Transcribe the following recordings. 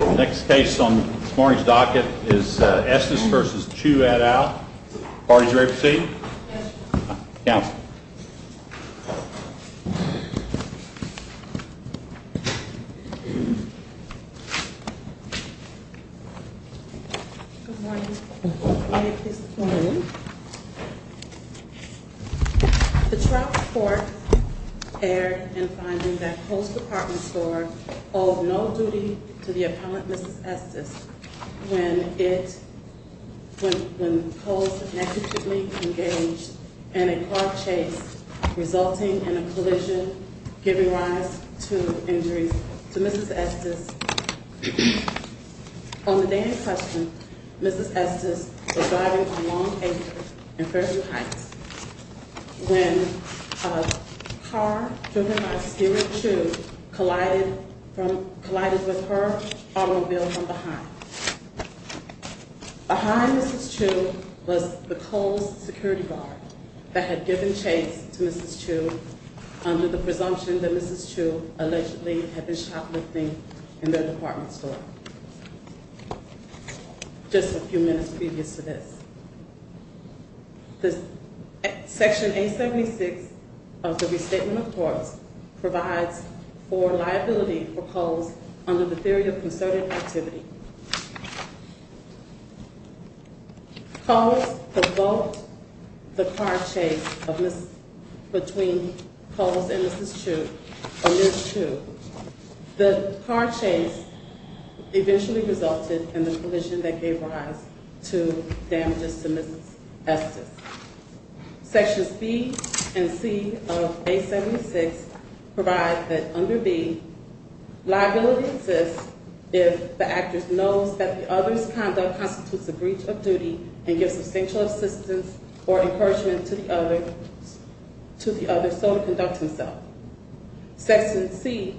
Next case on this morning's docket is Estes v. Chew et al. Are you ready to proceed? Yes. Counsel. Good morning. May I please have the floor? Good morning. The trial report aired in finding that Post Department Store owed no duty to the appellant, Mrs. Estes, when it, when, when Cole's negligently engaged in a car chase resulting in a collision giving rise to injuries to Mrs. Estes. On the day in question, Mrs. Estes was driving on Long Acre in Fairview Heights when a car driven by Spirit Chew collided from, collided with her automobile from behind. Behind Mrs. Chew was the Cole's security guard that had given chase to Mrs. Chew under the presumption that Mrs. Chew allegedly had been shoplifting in their department store. Just a few minutes previous to this. The Section 876 of the Restatement of Courts provides for liability for Cole's under the theory of concerted activity. Cole's provoked the car chase of Mrs., between Cole's and Mrs. Chew, or Ms. Chew. The car chase eventually resulted in the collision that gave rise to damages to Mrs. Estes. Sections B and C of 876 provide that under B, liability exists if the actress knows that the other's conduct constitutes a breach of duty and gives substantial assistance or encouragement to the other, to the other so to conduct himself. Section C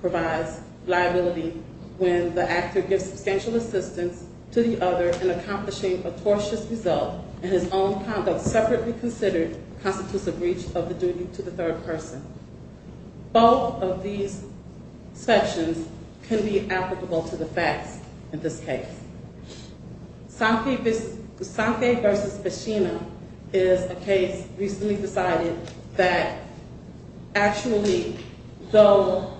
provides liability when the actor gives substantial assistance to the other in accomplishing a tortious result and his own conduct separately considered constitutes a breach of the duty to the third person. Both of these sections can be applicable to the facts in this case. Sankey v. Pesina is a case recently decided that actually, though,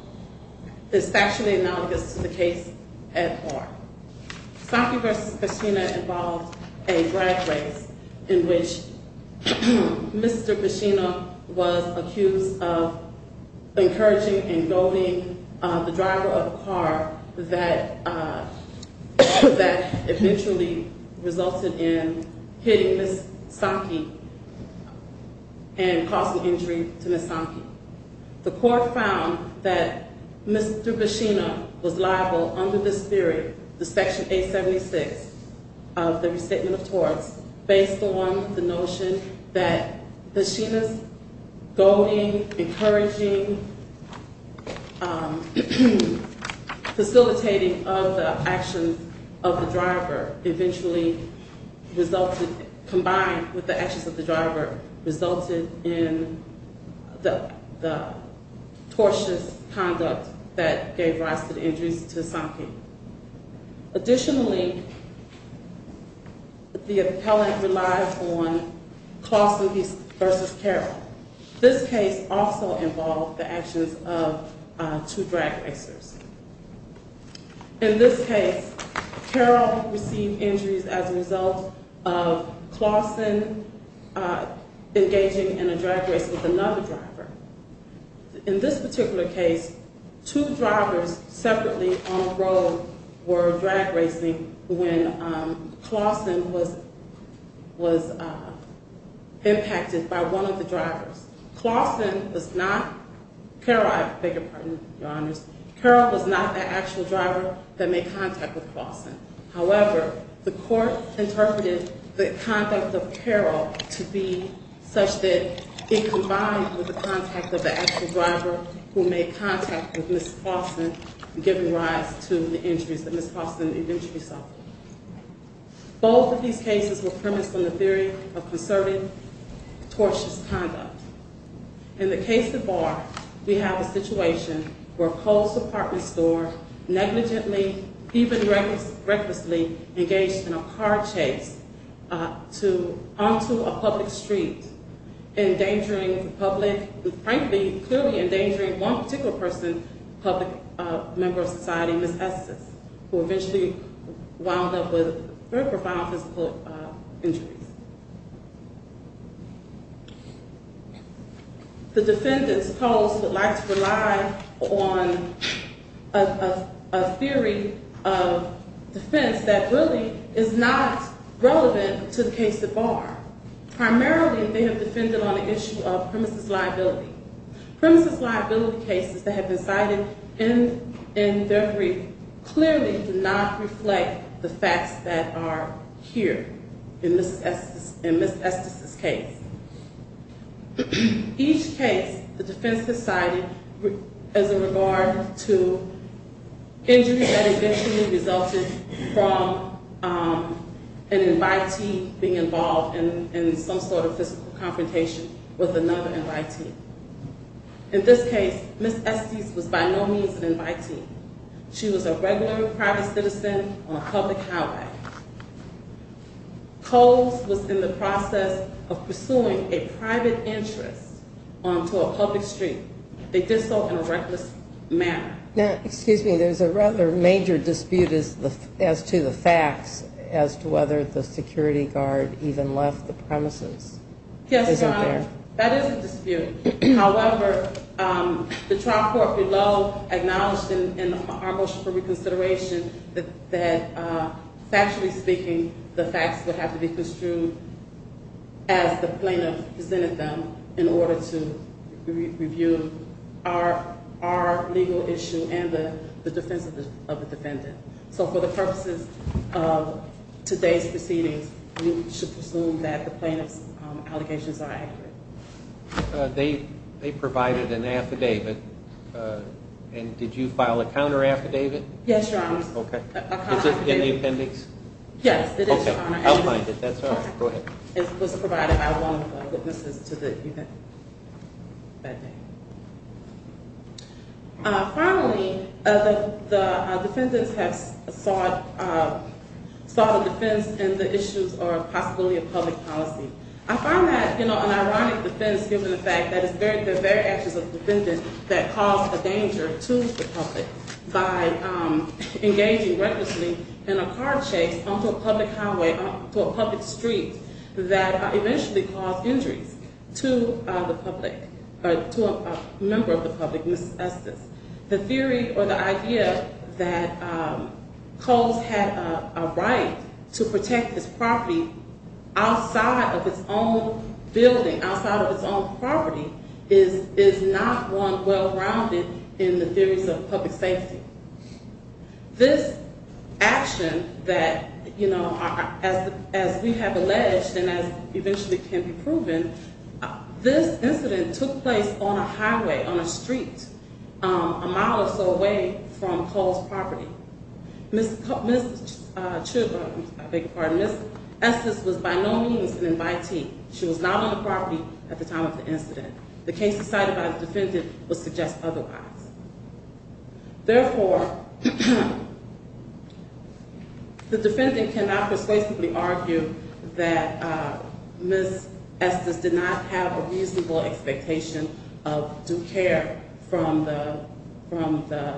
is factually analogous to the case at heart. Sankey v. Pesina involved a drag race in which Mr. Pesina was accused of encouraging and goading the driver of a car that eventually resulted in hitting Ms. Sankey and causing injury to Ms. Sankey. The court found that Mr. Pesina was liable under this theory, the Section 876 of the Restatement of Torts, based on the notion that Pesina's goading, encouraging, facilitating of the actions of the driver eventually resulted, combined with the actions of the driver, resulted in the tortious conduct that gave rise to the injuries to Sankey. Additionally, the appellant relied on Clawson v. Carroll. This case also involved the actions of two drag racers. In this case, Carroll received injuries as a result of Clawson engaging in a drag race with another driver. In this particular case, two drivers separately on the road were drag racing when Clawson was impacted by one of the drivers. Carroll was not the actual driver that made contact with Clawson. However, the court interpreted the conduct of Carroll to be such that it combined with the contact of the actual driver who made contact with Ms. Clawson, giving rise to the injuries that Ms. Clawson eventually suffered. Both of these cases were premised on the theory of concerted, tortious conduct. In the case of Barr, we have a situation where Cole's apartment store negligently, even recklessly, engaged in a car chase onto a public street, endangering the public, frankly, clearly endangering one particular person, a public member of society, Ms. Estes, who eventually wound up with very profound physical injuries. The defendants, Cole's, would like to rely on a theory of defense that really is not relevant to the case of Barr. Primarily, they have defended on the issue of premises liability. Premises liability cases that have been cited in their brief clearly do not reflect the facts that are here in Ms. Estes' case. Each case, the defense has cited as a regard to injuries that eventually resulted from an invitee being involved in some sort of physical confrontation with another invitee. In this case, Ms. Estes was by no means an invitee. She was a regular private citizen on a public highway. Cole's was in the process of pursuing a private interest onto a public street. They did so in a reckless manner. Now, excuse me, there's a rather major dispute as to the facts as to whether the security guard even left the premises. Yes, Your Honor. Isn't there? That is a dispute. However, the trial court below acknowledged in our motion for reconsideration that factually speaking, the facts would have to be construed as the plaintiff presented them in order to review our legal issue and the defense of the defendant. So for the purposes of today's proceedings, we should presume that the plaintiff's allegations are accurate. They provided an affidavit. And did you file a counter affidavit? Yes, Your Honor. Okay. Is it in the appendix? Yes, it is, Your Honor. Okay. I'll find it. That's all. Go ahead. It was provided by one of the witnesses to the event that day. Finally, the defendants have sought a defense in the issues of possibility of public policy. I find that, you know, an ironic defense given the fact that it's the very actions of the defendant that cause a danger to the public by engaging recklessly in a car chase onto a public highway, onto a public street that eventually caused injuries to the public, or to a member of the public, Mrs. Estes. The theory or the idea that Coles had a right to protect his property outside of his own building, outside of his own property, is not one well-rounded in the theories of public safety. This action that, you know, as we have alleged and as eventually can be proven, this incident took place on a highway, on a street, a mile or so away from Coles' property. Ms. Estes was by no means an invitee. She was not on the property at the time of the incident. The case decided by the defendant would suggest otherwise. Therefore, the defendant cannot persuasively argue that Ms. Estes did not have a reasonable expectation of due care from the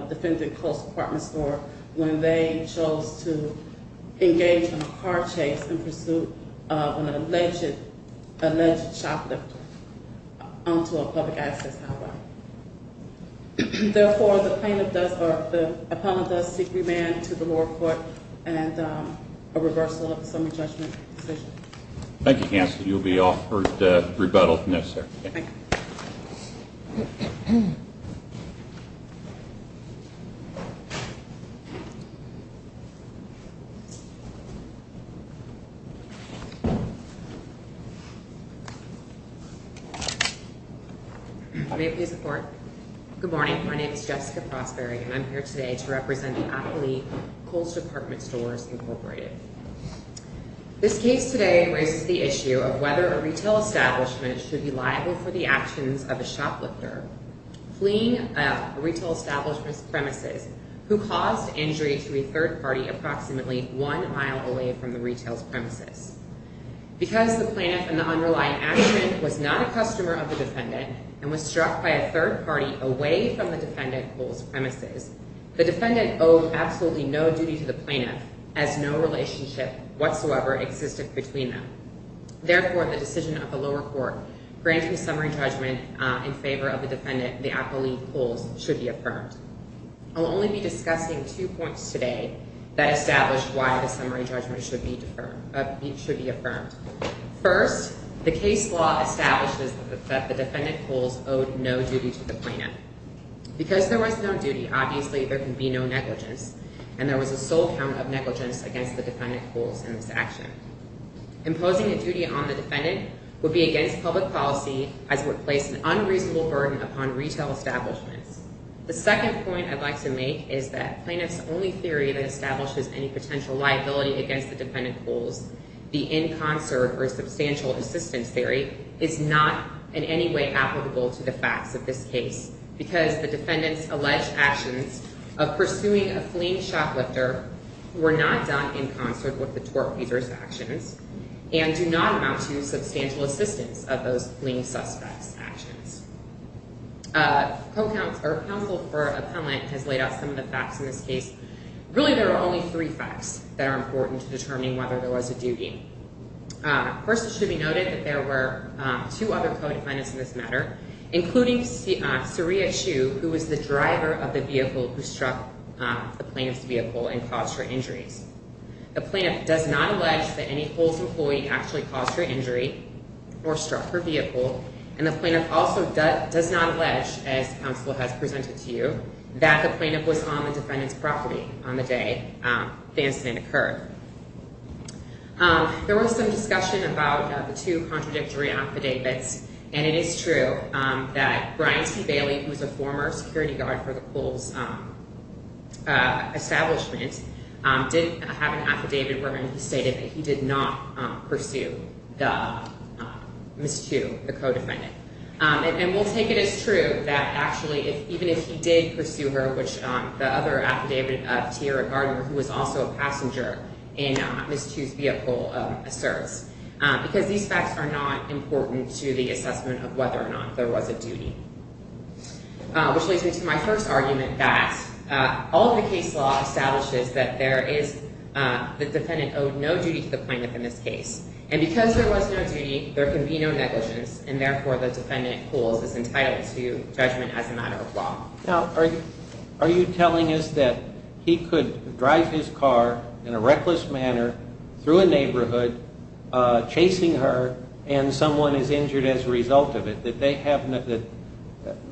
defendant, Coles' apartment store, when they chose to engage in a car chase in pursuit of an alleged shoplifter onto a public access highway. Therefore, the plaintiff does, or the appellant does seek remand to the lower court and a reversal of the summary judgment decision. Thank you, Counselor. You will be offered rebuttal from this, sir. Thank you. Thank you. May I please report? Good morning. My name is Jessica Prosperig, and I'm here today to represent the appellee, Coles' Apartment Stores, Incorporated. This case today raises the issue of whether a retail establishment should be liable for the actions of a shoplifter fleeing a retail establishment's premises who caused injury to a third party approximately one mile away from the retail's premises. Because the plaintiff in the underlying action was not a customer of the defendant and was struck by a third party away from the defendant, Coles' premises, the defendant owed absolutely no duty to the plaintiff as no relationship whatsoever existed between them. Therefore, the decision of the lower court granting summary judgment in favor of the defendant, the appellee, Coles, should be affirmed. I'll only be discussing two points today that established why the summary judgment should be affirmed. First, the case law establishes that the defendant, Coles, owed no duty to the plaintiff. Because there was no duty, obviously there can be no negligence, and there was a sole count of negligence against the defendant, Coles, in this action. Imposing a duty on the defendant would be against public policy as it would place an unreasonable burden upon retail establishments. The second point I'd like to make is that plaintiff's only theory that establishes any potential liability against the defendant, Coles, the in concert or substantial assistance theory, is not in any way applicable to the facts of this case because the defendant's alleged actions of pursuing a fleeing shoplifter were not done in concert with the tort user's actions and do not amount to substantial assistance of those fleeing suspects' actions. Our counsel for appellant has laid out some of the facts in this case. Really, there are only three facts that are important to determining whether there was a duty. First, it should be noted that there were two other co-defendants in this matter, including Saria Shu, who was the driver of the vehicle who struck the plaintiff's vehicle and caused her injuries. The plaintiff does not allege that any Coles employee actually caused her injury or struck her vehicle, and the plaintiff also does not allege, as counsel has presented to you, that the plaintiff was on the defendant's property on the day the incident occurred. There was some discussion about the two contradictory affidavits, and it is true that Brian T. Bailey, who was a former security guard for the Coles establishment, did have an affidavit wherein he stated that he did not pursue Ms. Shu, the co-defendant. And we'll take it as true that actually, even if he did pursue her, which the other affidavit, Tiara Gardner, who was also a passenger in Ms. Shu's vehicle, asserts. Because these facts are not important to the assessment of whether or not there was a duty. Which leads me to my first argument that all of the case law establishes that there is— the defendant owed no duty to the plaintiff in this case. And because there was no duty, there can be no negligence, and therefore the defendant, Coles, is entitled to judgment as a matter of law. Now, are you telling us that he could drive his car in a reckless manner through a neighborhood, chasing her, and someone is injured as a result of it? That they have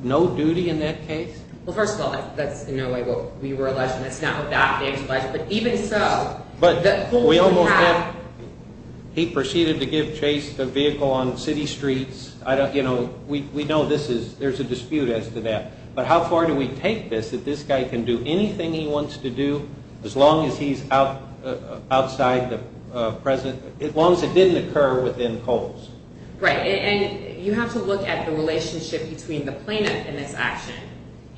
no duty in that case? Well, first of all, that's in no way what we were alleged, and it's not what that case alleged. But even so, that Coles would have— But we almost have—he proceeded to give Chase the vehicle on city streets. I don't—you know, we know this is—there's a dispute as to that. But how far do we take this, that this guy can do anything he wants to do, as long as he's outside the present—as long as it didn't occur within Coles? Right. And you have to look at the relationship between the plaintiff in this action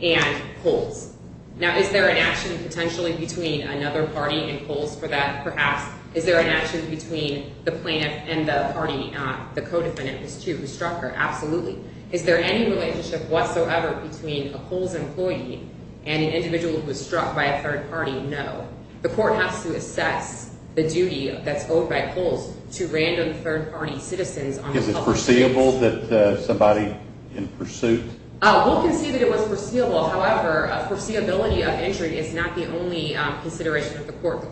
and Coles. Now, is there an action potentially between another party and Coles for that, perhaps? Is there an action between the plaintiff and the party, the co-defendant, who struck her? Absolutely. Is there any relationship whatsoever between a Coles employee and an individual who was struck by a third party? No. The court has to assess the duty that's owed by Coles to random third-party citizens on the public— Is it foreseeable that somebody in pursuit— We'll concede that it was foreseeable. However, foreseeability of injury is not the only consideration of the court.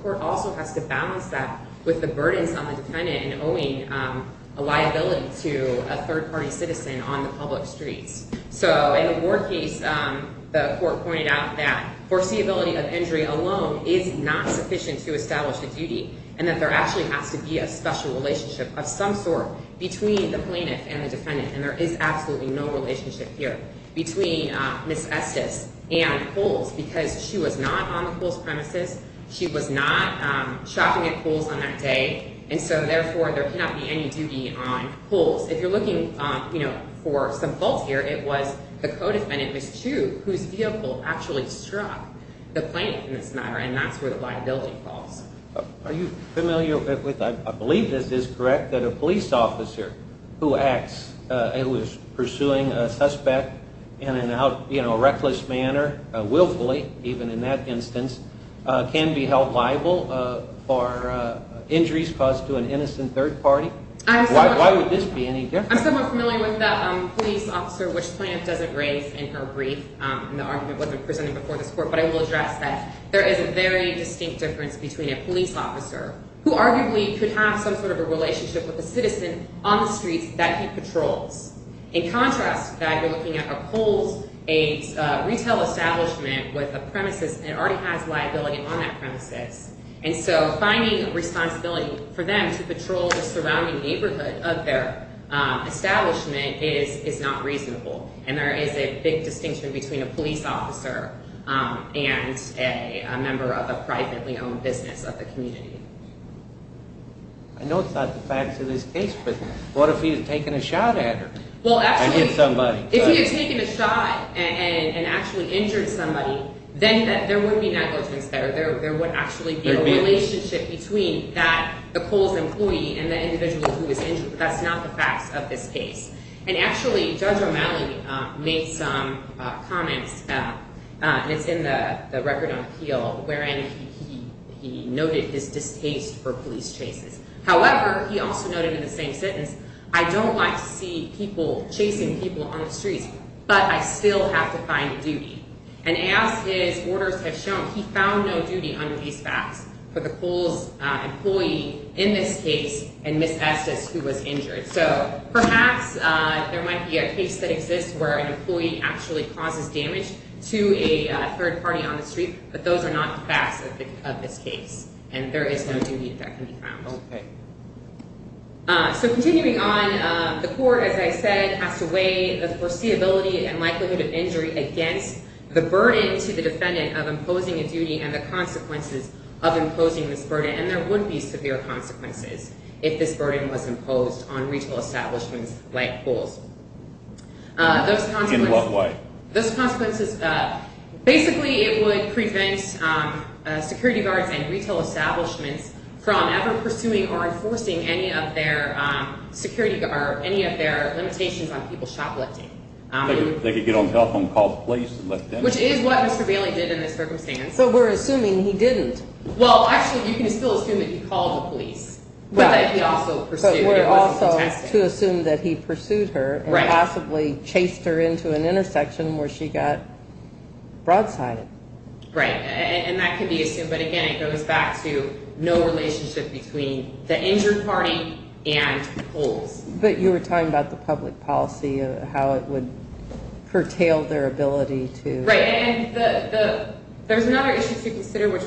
a liability to a third-party citizen on the public streets. So in the Ward case, the court pointed out that foreseeability of injury alone is not sufficient to establish a duty and that there actually has to be a special relationship of some sort between the plaintiff and the defendant. And there is absolutely no relationship here between Ms. Estes and Coles, because she was not on the Coles premises. She was not shopping at Coles on that day. And so, therefore, there cannot be any duty on Coles. If you're looking for some fault here, it was the co-defendant, Ms. Chu, whose vehicle actually struck the plaintiff in this matter, and that's where the liability falls. Are you familiar with—I believe this is correct—that a police officer who acts— who is pursuing a suspect in a reckless manner, willfully, even in that instance, can be held liable for injuries caused to an innocent third party? Why would this be any different? I'm somewhat familiar with that police officer, which the plaintiff doesn't raise in her brief, and the argument wasn't presented before this court, but I will address that there is a very distinct difference between a police officer, who arguably could have some sort of a relationship with a citizen on the streets that he patrols. In contrast, that you're looking at a Coles, a retail establishment with a premises, and already has liability on that premises. And so, finding a responsibility for them to patrol the surrounding neighborhood of their establishment is not reasonable, and there is a big distinction between a police officer and a member of a privately owned business of the community. I know it's not the facts of this case, but what if he had taken a shot at her? Well, absolutely. And hit somebody. Then there would be negligence there. There would actually be a relationship between the Coles employee and the individual who was injured. That's not the facts of this case. And actually, Judge O'Malley made some comments, and it's in the record on appeal, wherein he noted his distaste for police chases. However, he also noted in the same sentence, I don't like to see people chasing people on the streets, but I still have to find a duty. And as his orders have shown, he found no duty under these facts for the Coles employee in this case and Ms. Estes, who was injured. So, perhaps there might be a case that exists where an employee actually causes damage to a third party on the street, but those are not the facts of this case, and there is no duty that can be found. Okay. So, continuing on, the court, as I said, has to weigh the foreseeability and likelihood of injury against the burden to the defendant of imposing a duty and the consequences of imposing this burden. And there would be severe consequences if this burden was imposed on retail establishments like Coles. In what way? Basically, it would prevent security guards and retail establishments from ever pursuing or enforcing any of their limitations on people shoplifting. They could get on the telephone and call the police and let them know. Which is what Mr. Bailey did in this circumstance. But we're assuming he didn't. Well, actually, you can still assume that he called the police, but that he also pursued her. But we're also to assume that he pursued her and possibly chased her into an intersection where she got broadsided. Right. And that can be assumed. But, again, it goes back to no relationship between the injured party and Coles. But you were talking about the public policy and how it would curtail their ability to... Right. And there's another issue to consider, which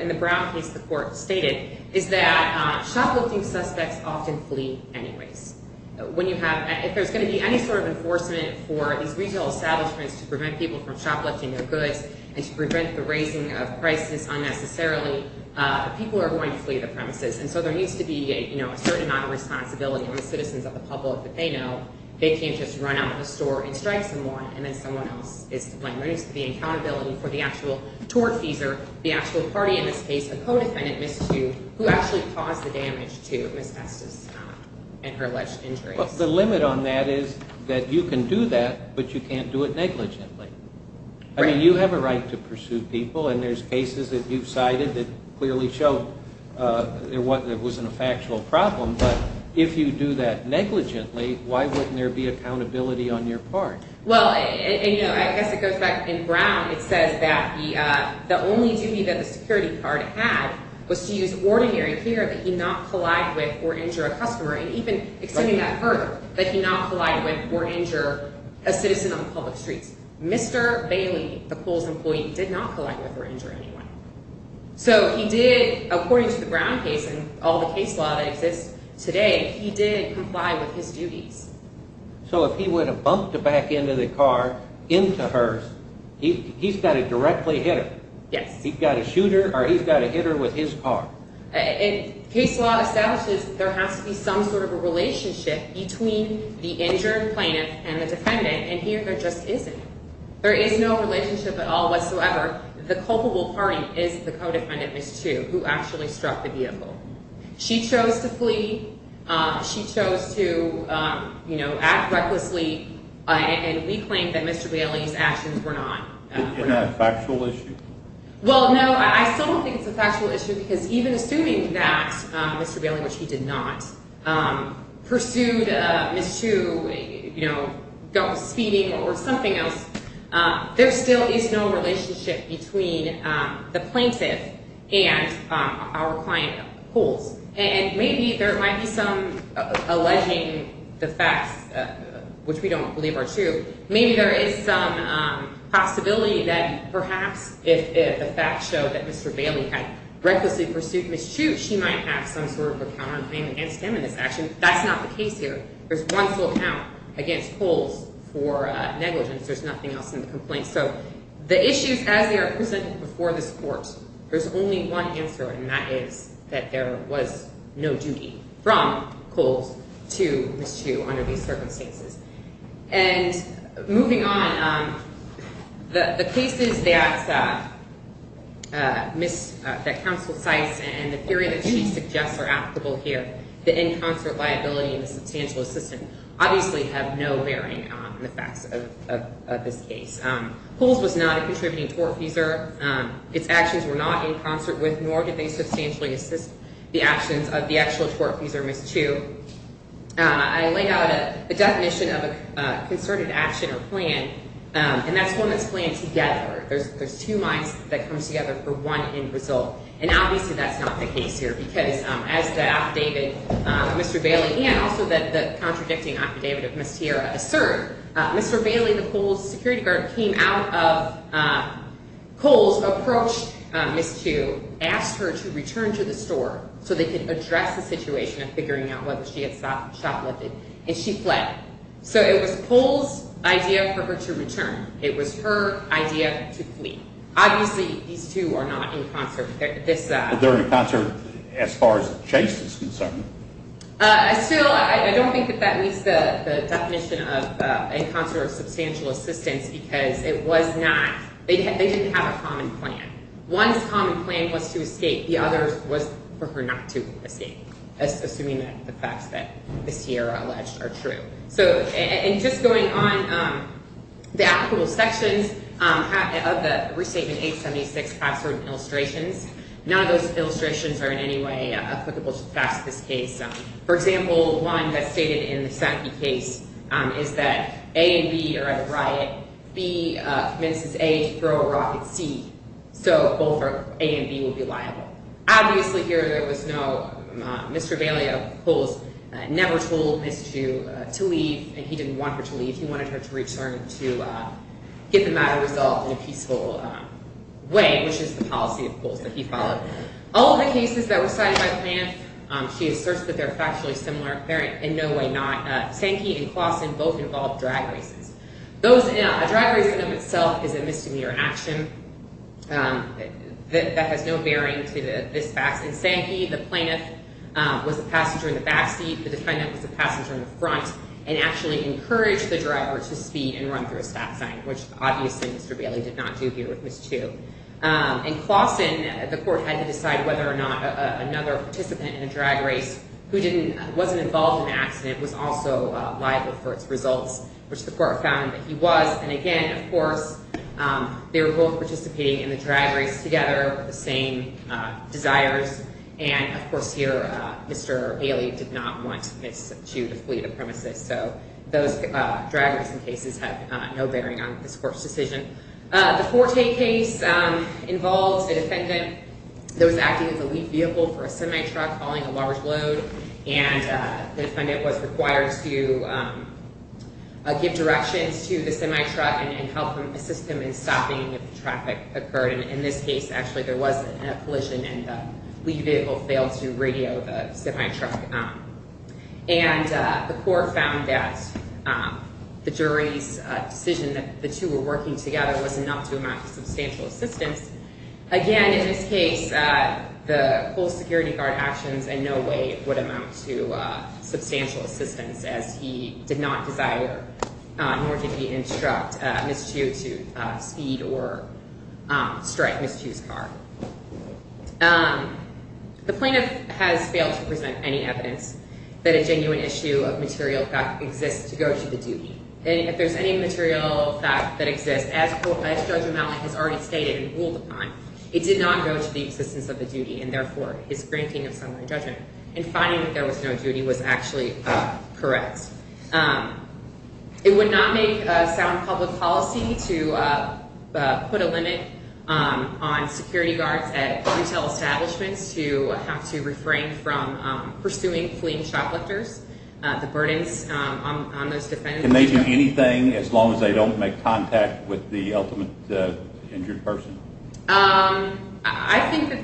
in the Brown case the court stated, is that shoplifting suspects often flee anyways. If there's going to be any sort of enforcement for these retail establishments to prevent people from shoplifting their goods and to prevent the raising of prices unnecessarily, people are going to flee the premises. And so there needs to be a certain amount of responsibility on the citizens of the public that they know. They can't just run out of the store and strike someone and then someone else is to blame. There needs to be accountability for the actual tortfeasor, the actual party in this case, the co-defendant, Ms. Tu, who actually caused the damage to Ms. Estes and her alleged injuries. The limit on that is that you can do that, but you can't do it negligently. I mean, you have a right to pursue people, and there's cases that you've cited that clearly show there wasn't a factual problem. But if you do that negligently, why wouldn't there be accountability on your part? Well, I guess it goes back... In Brown it says that the only duty that the security guard had was to use ordinary care that he not collide with or injure a customer. And even extending that further, that he not collide with or injure a citizen on public streets. Mr. Bailey, the pool's employee, did not collide with or injure anyone. So he did, according to the Brown case and all the case law that exists today, he did comply with his duties. So if he would have bumped back into the car, into hers, he's got to directly hit her. Yes. He's got to shoot her or he's got to hit her with his car. Case law establishes there has to be some sort of a relationship between the injured plaintiff and the defendant, and here there just isn't. There is no relationship at all whatsoever. The culpable party is the co-defendant, Ms. Chu, who actually struck the vehicle. She chose to flee. She chose to, you know, act recklessly, and we claim that Mr. Bailey's actions were not... Isn't that a factual issue? Well, no, I still don't think it's a factual issue because even assuming that Mr. Bailey, which he did not, pursued Ms. Chu, you know, speeding or something else, there still is no relationship between the plaintiff and our client pools, and maybe there might be some alleging the facts, which we don't believe are true. Maybe there is some possibility that perhaps if the facts show that Mr. Bailey had recklessly pursued Ms. Chu, she might have some sort of a counterclaim against him in this action. That's not the case here. There's one full count against Kohl's for negligence. There's nothing else in the complaint. So the issues as they are presented before this court, there's only one answer, and that is that there was no duty from Kohl's to Ms. Chu under these circumstances. And moving on, the cases that counsel cites and the theory that she suggests are applicable here, the in concert liability and the substantial assistance, obviously have no bearing on the facts of this case. Kohl's was not a contributing tortfeasor. Its actions were not in concert with nor did they substantially assist the actions of the actual tortfeasor, Ms. Chu. I laid out a definition of a concerted action or plan, and that's one that's planned together. There's two minds that come together for one end result, and obviously that's not the case here, because as the affidavit of Mr. Bailey and also the contradicting affidavit of Ms. Tierra assert, Mr. Bailey, the Kohl's security guard, came out of Kohl's, approached Ms. Chu, asked her to return to the store so they could address the situation of figuring out whether she had shoplifted, and she fled. So it was Kohl's idea for her to return. It was her idea to flee. Obviously, these two are not in concert. They're in concert as far as Chase is concerned. Still, I don't think that that meets the definition of in concert or substantial assistance because it was not. They didn't have a common plan. One common plan was to escape. The other was for her not to escape, assuming that the facts that Ms. Tierra alleged are true. And just going on, the applicable sections of the Restatement 876 password and illustrations, none of those illustrations are in any way applicable to the facts of this case. For example, one that's stated in the SACI case is that A and B are at a riot. B commences A to throw a rock at C. So both A and B will be liable. Obviously, here there was no, Mr. Bailey of Kohl's never told Ms. Chu to leave, and he didn't want her to leave. He wanted her to return to get the matter resolved in a peaceful way, which is the policy of Kohl's that he followed. All of the cases that were cited by the man, she asserts that they're factually similar. They're in no way not. Sankey and Claussen both involved drag races. A drag race in and of itself is a misdemeanor in action. That has no bearing to this fact. In Sankey, the plaintiff was a passenger in the back seat. The defendant was a passenger in the front and actually encouraged the driver to speed and run through a stop sign, which obviously Mr. Bailey did not do here with Ms. Chu. In Claussen, the court had to decide whether or not another participant in a drag race who wasn't involved in an accident was also liable for its results, which the court found that he was. And again, of course, they were both participating in the drag race together with the same desires. And, of course, here Mr. Bailey did not want Ms. Chu to flee the premises. So those drag racing cases have no bearing on this court's decision. The Forte case involves a defendant that was acting as a lead vehicle for a semi-truck following a large load. And the defendant was required to give directions to the semi-truck and help assist him in stopping if traffic occurred. And in this case, actually, there was a collision and the lead vehicle failed to radio the semi-truck. And the court found that the jury's decision that the two were working together was enough to amount to substantial assistance. Again, in this case, the full security guard actions in no way would amount to substantial assistance, as he did not desire nor did he instruct Ms. Chu to speed or strike Ms. Chu's car. The plaintiff has failed to present any evidence that a genuine issue of material fact exists to go to the duty. And if there's any material fact that exists, as Judge O'Malley has already stated and ruled upon, it did not go to the existence of the duty and, therefore, his granting of summary judgment. And finding that there was no duty was actually correct. It would not make sound public policy to put a limit on security guards at retail establishments to have to refrain from pursuing fleeing shoplifters, the burdens on those defendants. Can they do anything as long as they don't make contact with the ultimate injured person? I think that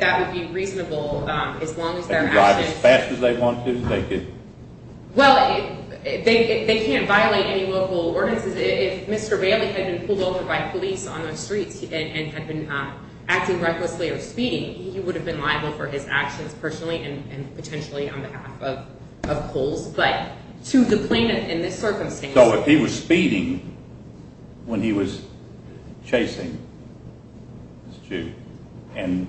that would be reasonable as long as their actions… Can they drive as fast as they want to? Well, they can't violate any local ordinances. If Mr. Bailey had been pulled over by police on the streets and had been acting recklessly or speeding, he would have been liable for his actions personally and potentially on behalf of Poles. But to the plaintiff in this circumstance… So if he was speeding when he was chasing Ms. Chu, and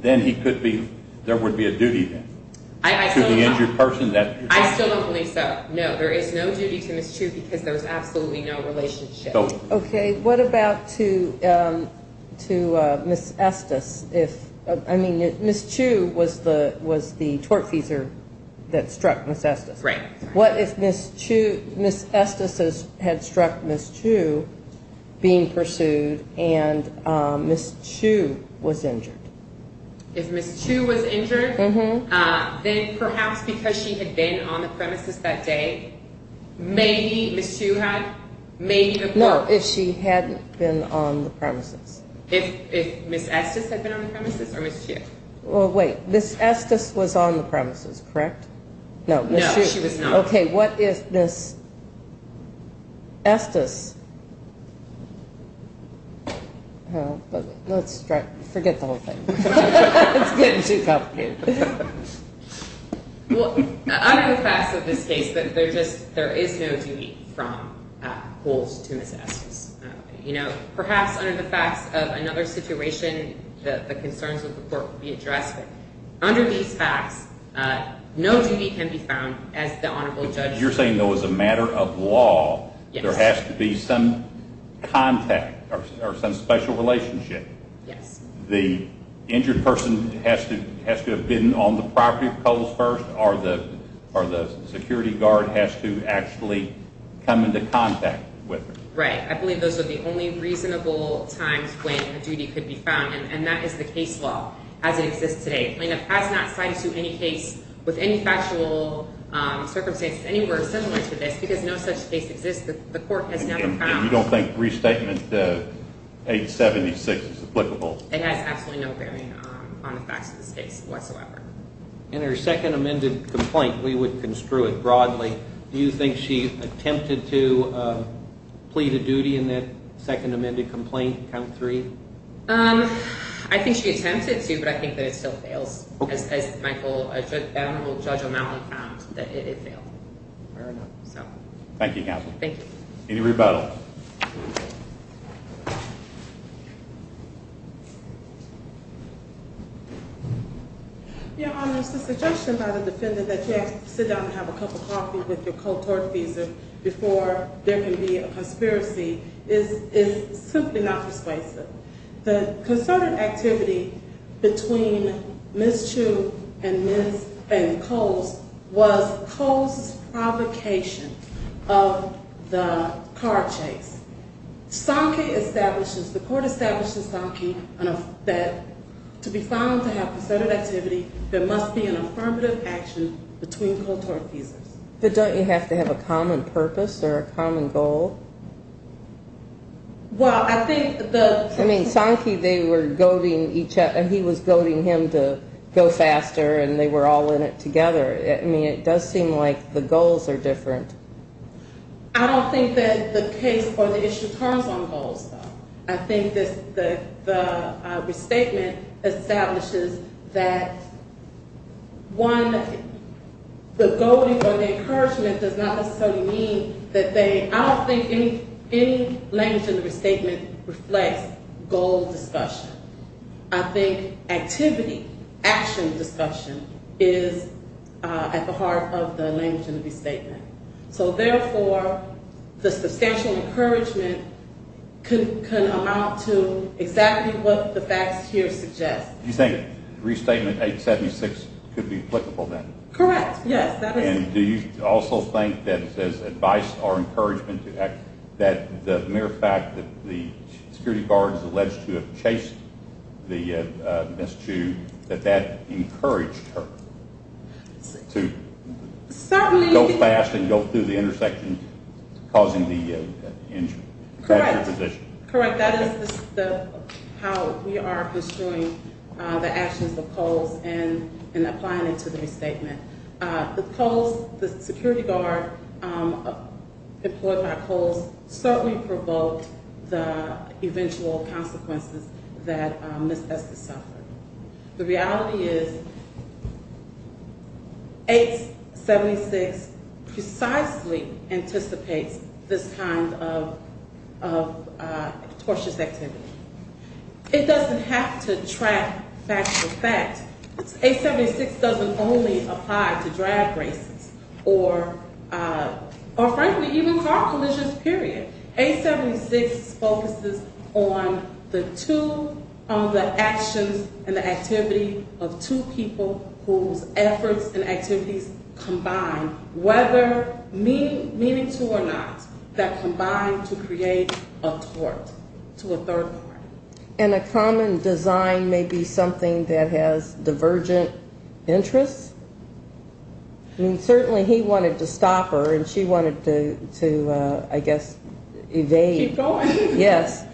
then he could be… I still don't believe so. No, there is no duty to Ms. Chu because there is absolutely no relationship. Okay. What about to Ms. Estes? I mean, Ms. Chu was the tortfeasor that struck Ms. Estes. Right. What if Ms. Estes had struck Ms. Chu being pursued and Ms. Chu was injured? If Ms. Chu was injured, then perhaps because she had been on the premises that day, maybe Ms. Chu had… No, if she hadn't been on the premises. If Ms. Estes had been on the premises or Ms. Chu? Well, wait. Ms. Estes was on the premises, correct? No, she was not. Okay. What if Ms. Estes… Let's forget the whole thing. It's getting too complicated. Well, under the facts of this case, there is no duty from Poles to Ms. Estes. Perhaps under the facts of another situation, the concerns of the court would be addressed. Under these facts, no duty can be found as the honorable judge… You're saying that as a matter of law, there has to be some contact or some special relationship? Yes. The injured person has to have been on the property of the Poles first or the security guard has to actually come into contact with her? Right. I believe those are the only reasonable times when a duty could be found, and that is the case law as it exists today. It has not cited to any case with any factual circumstances anywhere similar to this because no such case exists. The court has never found… And you don't think restatement 876 is applicable? It has absolutely no bearing on the facts of this case whatsoever. In her second amended complaint, we would construe it broadly. Do you think she attempted to plead a duty in that second amended complaint, count 3? I think she attempted to, but I think that it still fails. As the honorable judge found, it failed. Thank you, counsel. Any rebuttal? Your Honor, the suggestion by the defendant that you have to sit down and have a cup of coffee with your cold tort visa before there can be a conspiracy is simply not persuasive. The concerted activity between Ms. Chu and Coles was Coles' provocation of the car chase. The court established in Sankey that to be found to have concerted activity, there must be an affirmative action between cold tort visas. But don't you have to have a common purpose or a common goal? Well, I think the… I mean, Sankey, they were goading each other, and he was goading him to go faster, and they were all in it together. I mean, it does seem like the goals are different. I don't think that the case or the issue turns on goals, though. I think the restatement establishes that, one, the goading or the encouragement does not necessarily mean that they… I don't think any language in the restatement reflects goal discussion. I think activity, action discussion, is at the heart of the language in the restatement. So, therefore, the substantial encouragement can amount to exactly what the facts here suggest. You think restatement 876 could be applicable then? Correct, yes. And do you also think that it says advice or encouragement, that the mere fact that the security guard is alleged to have chased Ms. Chu, that that encouraged her to go fast and go through the intersection, causing the injury? Correct. Correct, that is how we are construing the actions of Coles in applying it to the restatement. The security guard employed by Coles certainly provoked the eventual consequences that Ms. Estes suffered. The reality is 876 precisely anticipates this kind of tortious activity. It doesn't have to track fact to fact. 876 doesn't only apply to drag races or frankly even car collisions, period. 876 focuses on the two, on the actions and the activity of two people whose efforts and activities combine, whether meaning to or not, that combine to create a tort, to a third part. And a common design may be something that has divergent interests. Certainly he wanted to stop her and she wanted to, I guess, evade. Keep going. Yes.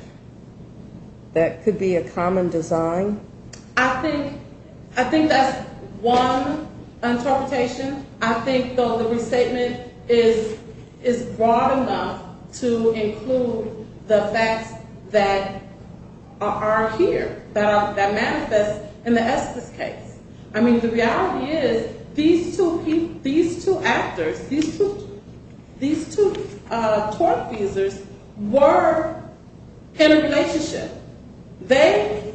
That could be a common design. I think that's one interpretation. I think the restatement is broad enough to include the facts that are here, that manifest in the Estes case. I mean, the reality is these two actors, these two tort abusers were in a relationship. They,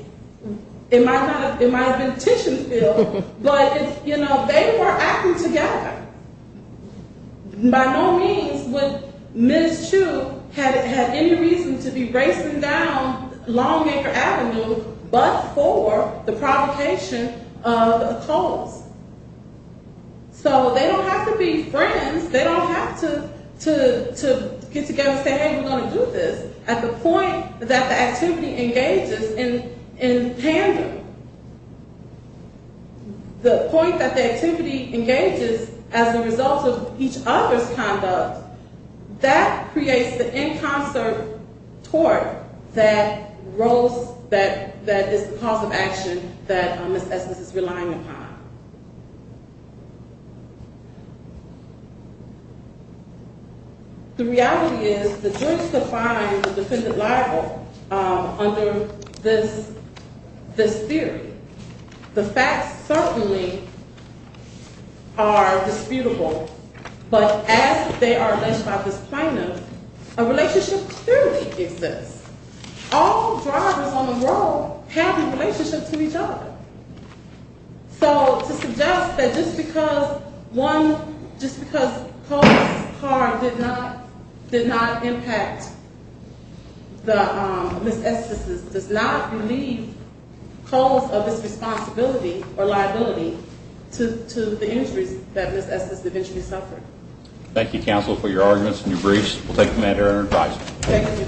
it might have been a tension field, but they were acting together. By no means would Ms. Chu have any reason to be racing down Longacre Avenue but for the provocation of a cause. So they don't have to be friends. They don't have to get together and say, hey, we're going to do this. At the point that the activity engages in tandem, the point that the activity engages as a result of each other's conduct, that creates the in concert tort that is the cause of action that Ms. Estes is relying upon. The reality is the judge defines the defendant liable under this theory. The facts certainly are disputable, but as they are alleged by this plaintiff, a relationship clearly exists. All drivers on the road have a relationship to each other. So to suggest that just because one, just because Paul's car did not impact Ms. Estes' does not relieve cause of this responsibility or liability to the injuries that Ms. Estes eventually suffered. Thank you, counsel, for your arguments and your briefs. We'll take them at your advice. Thank you.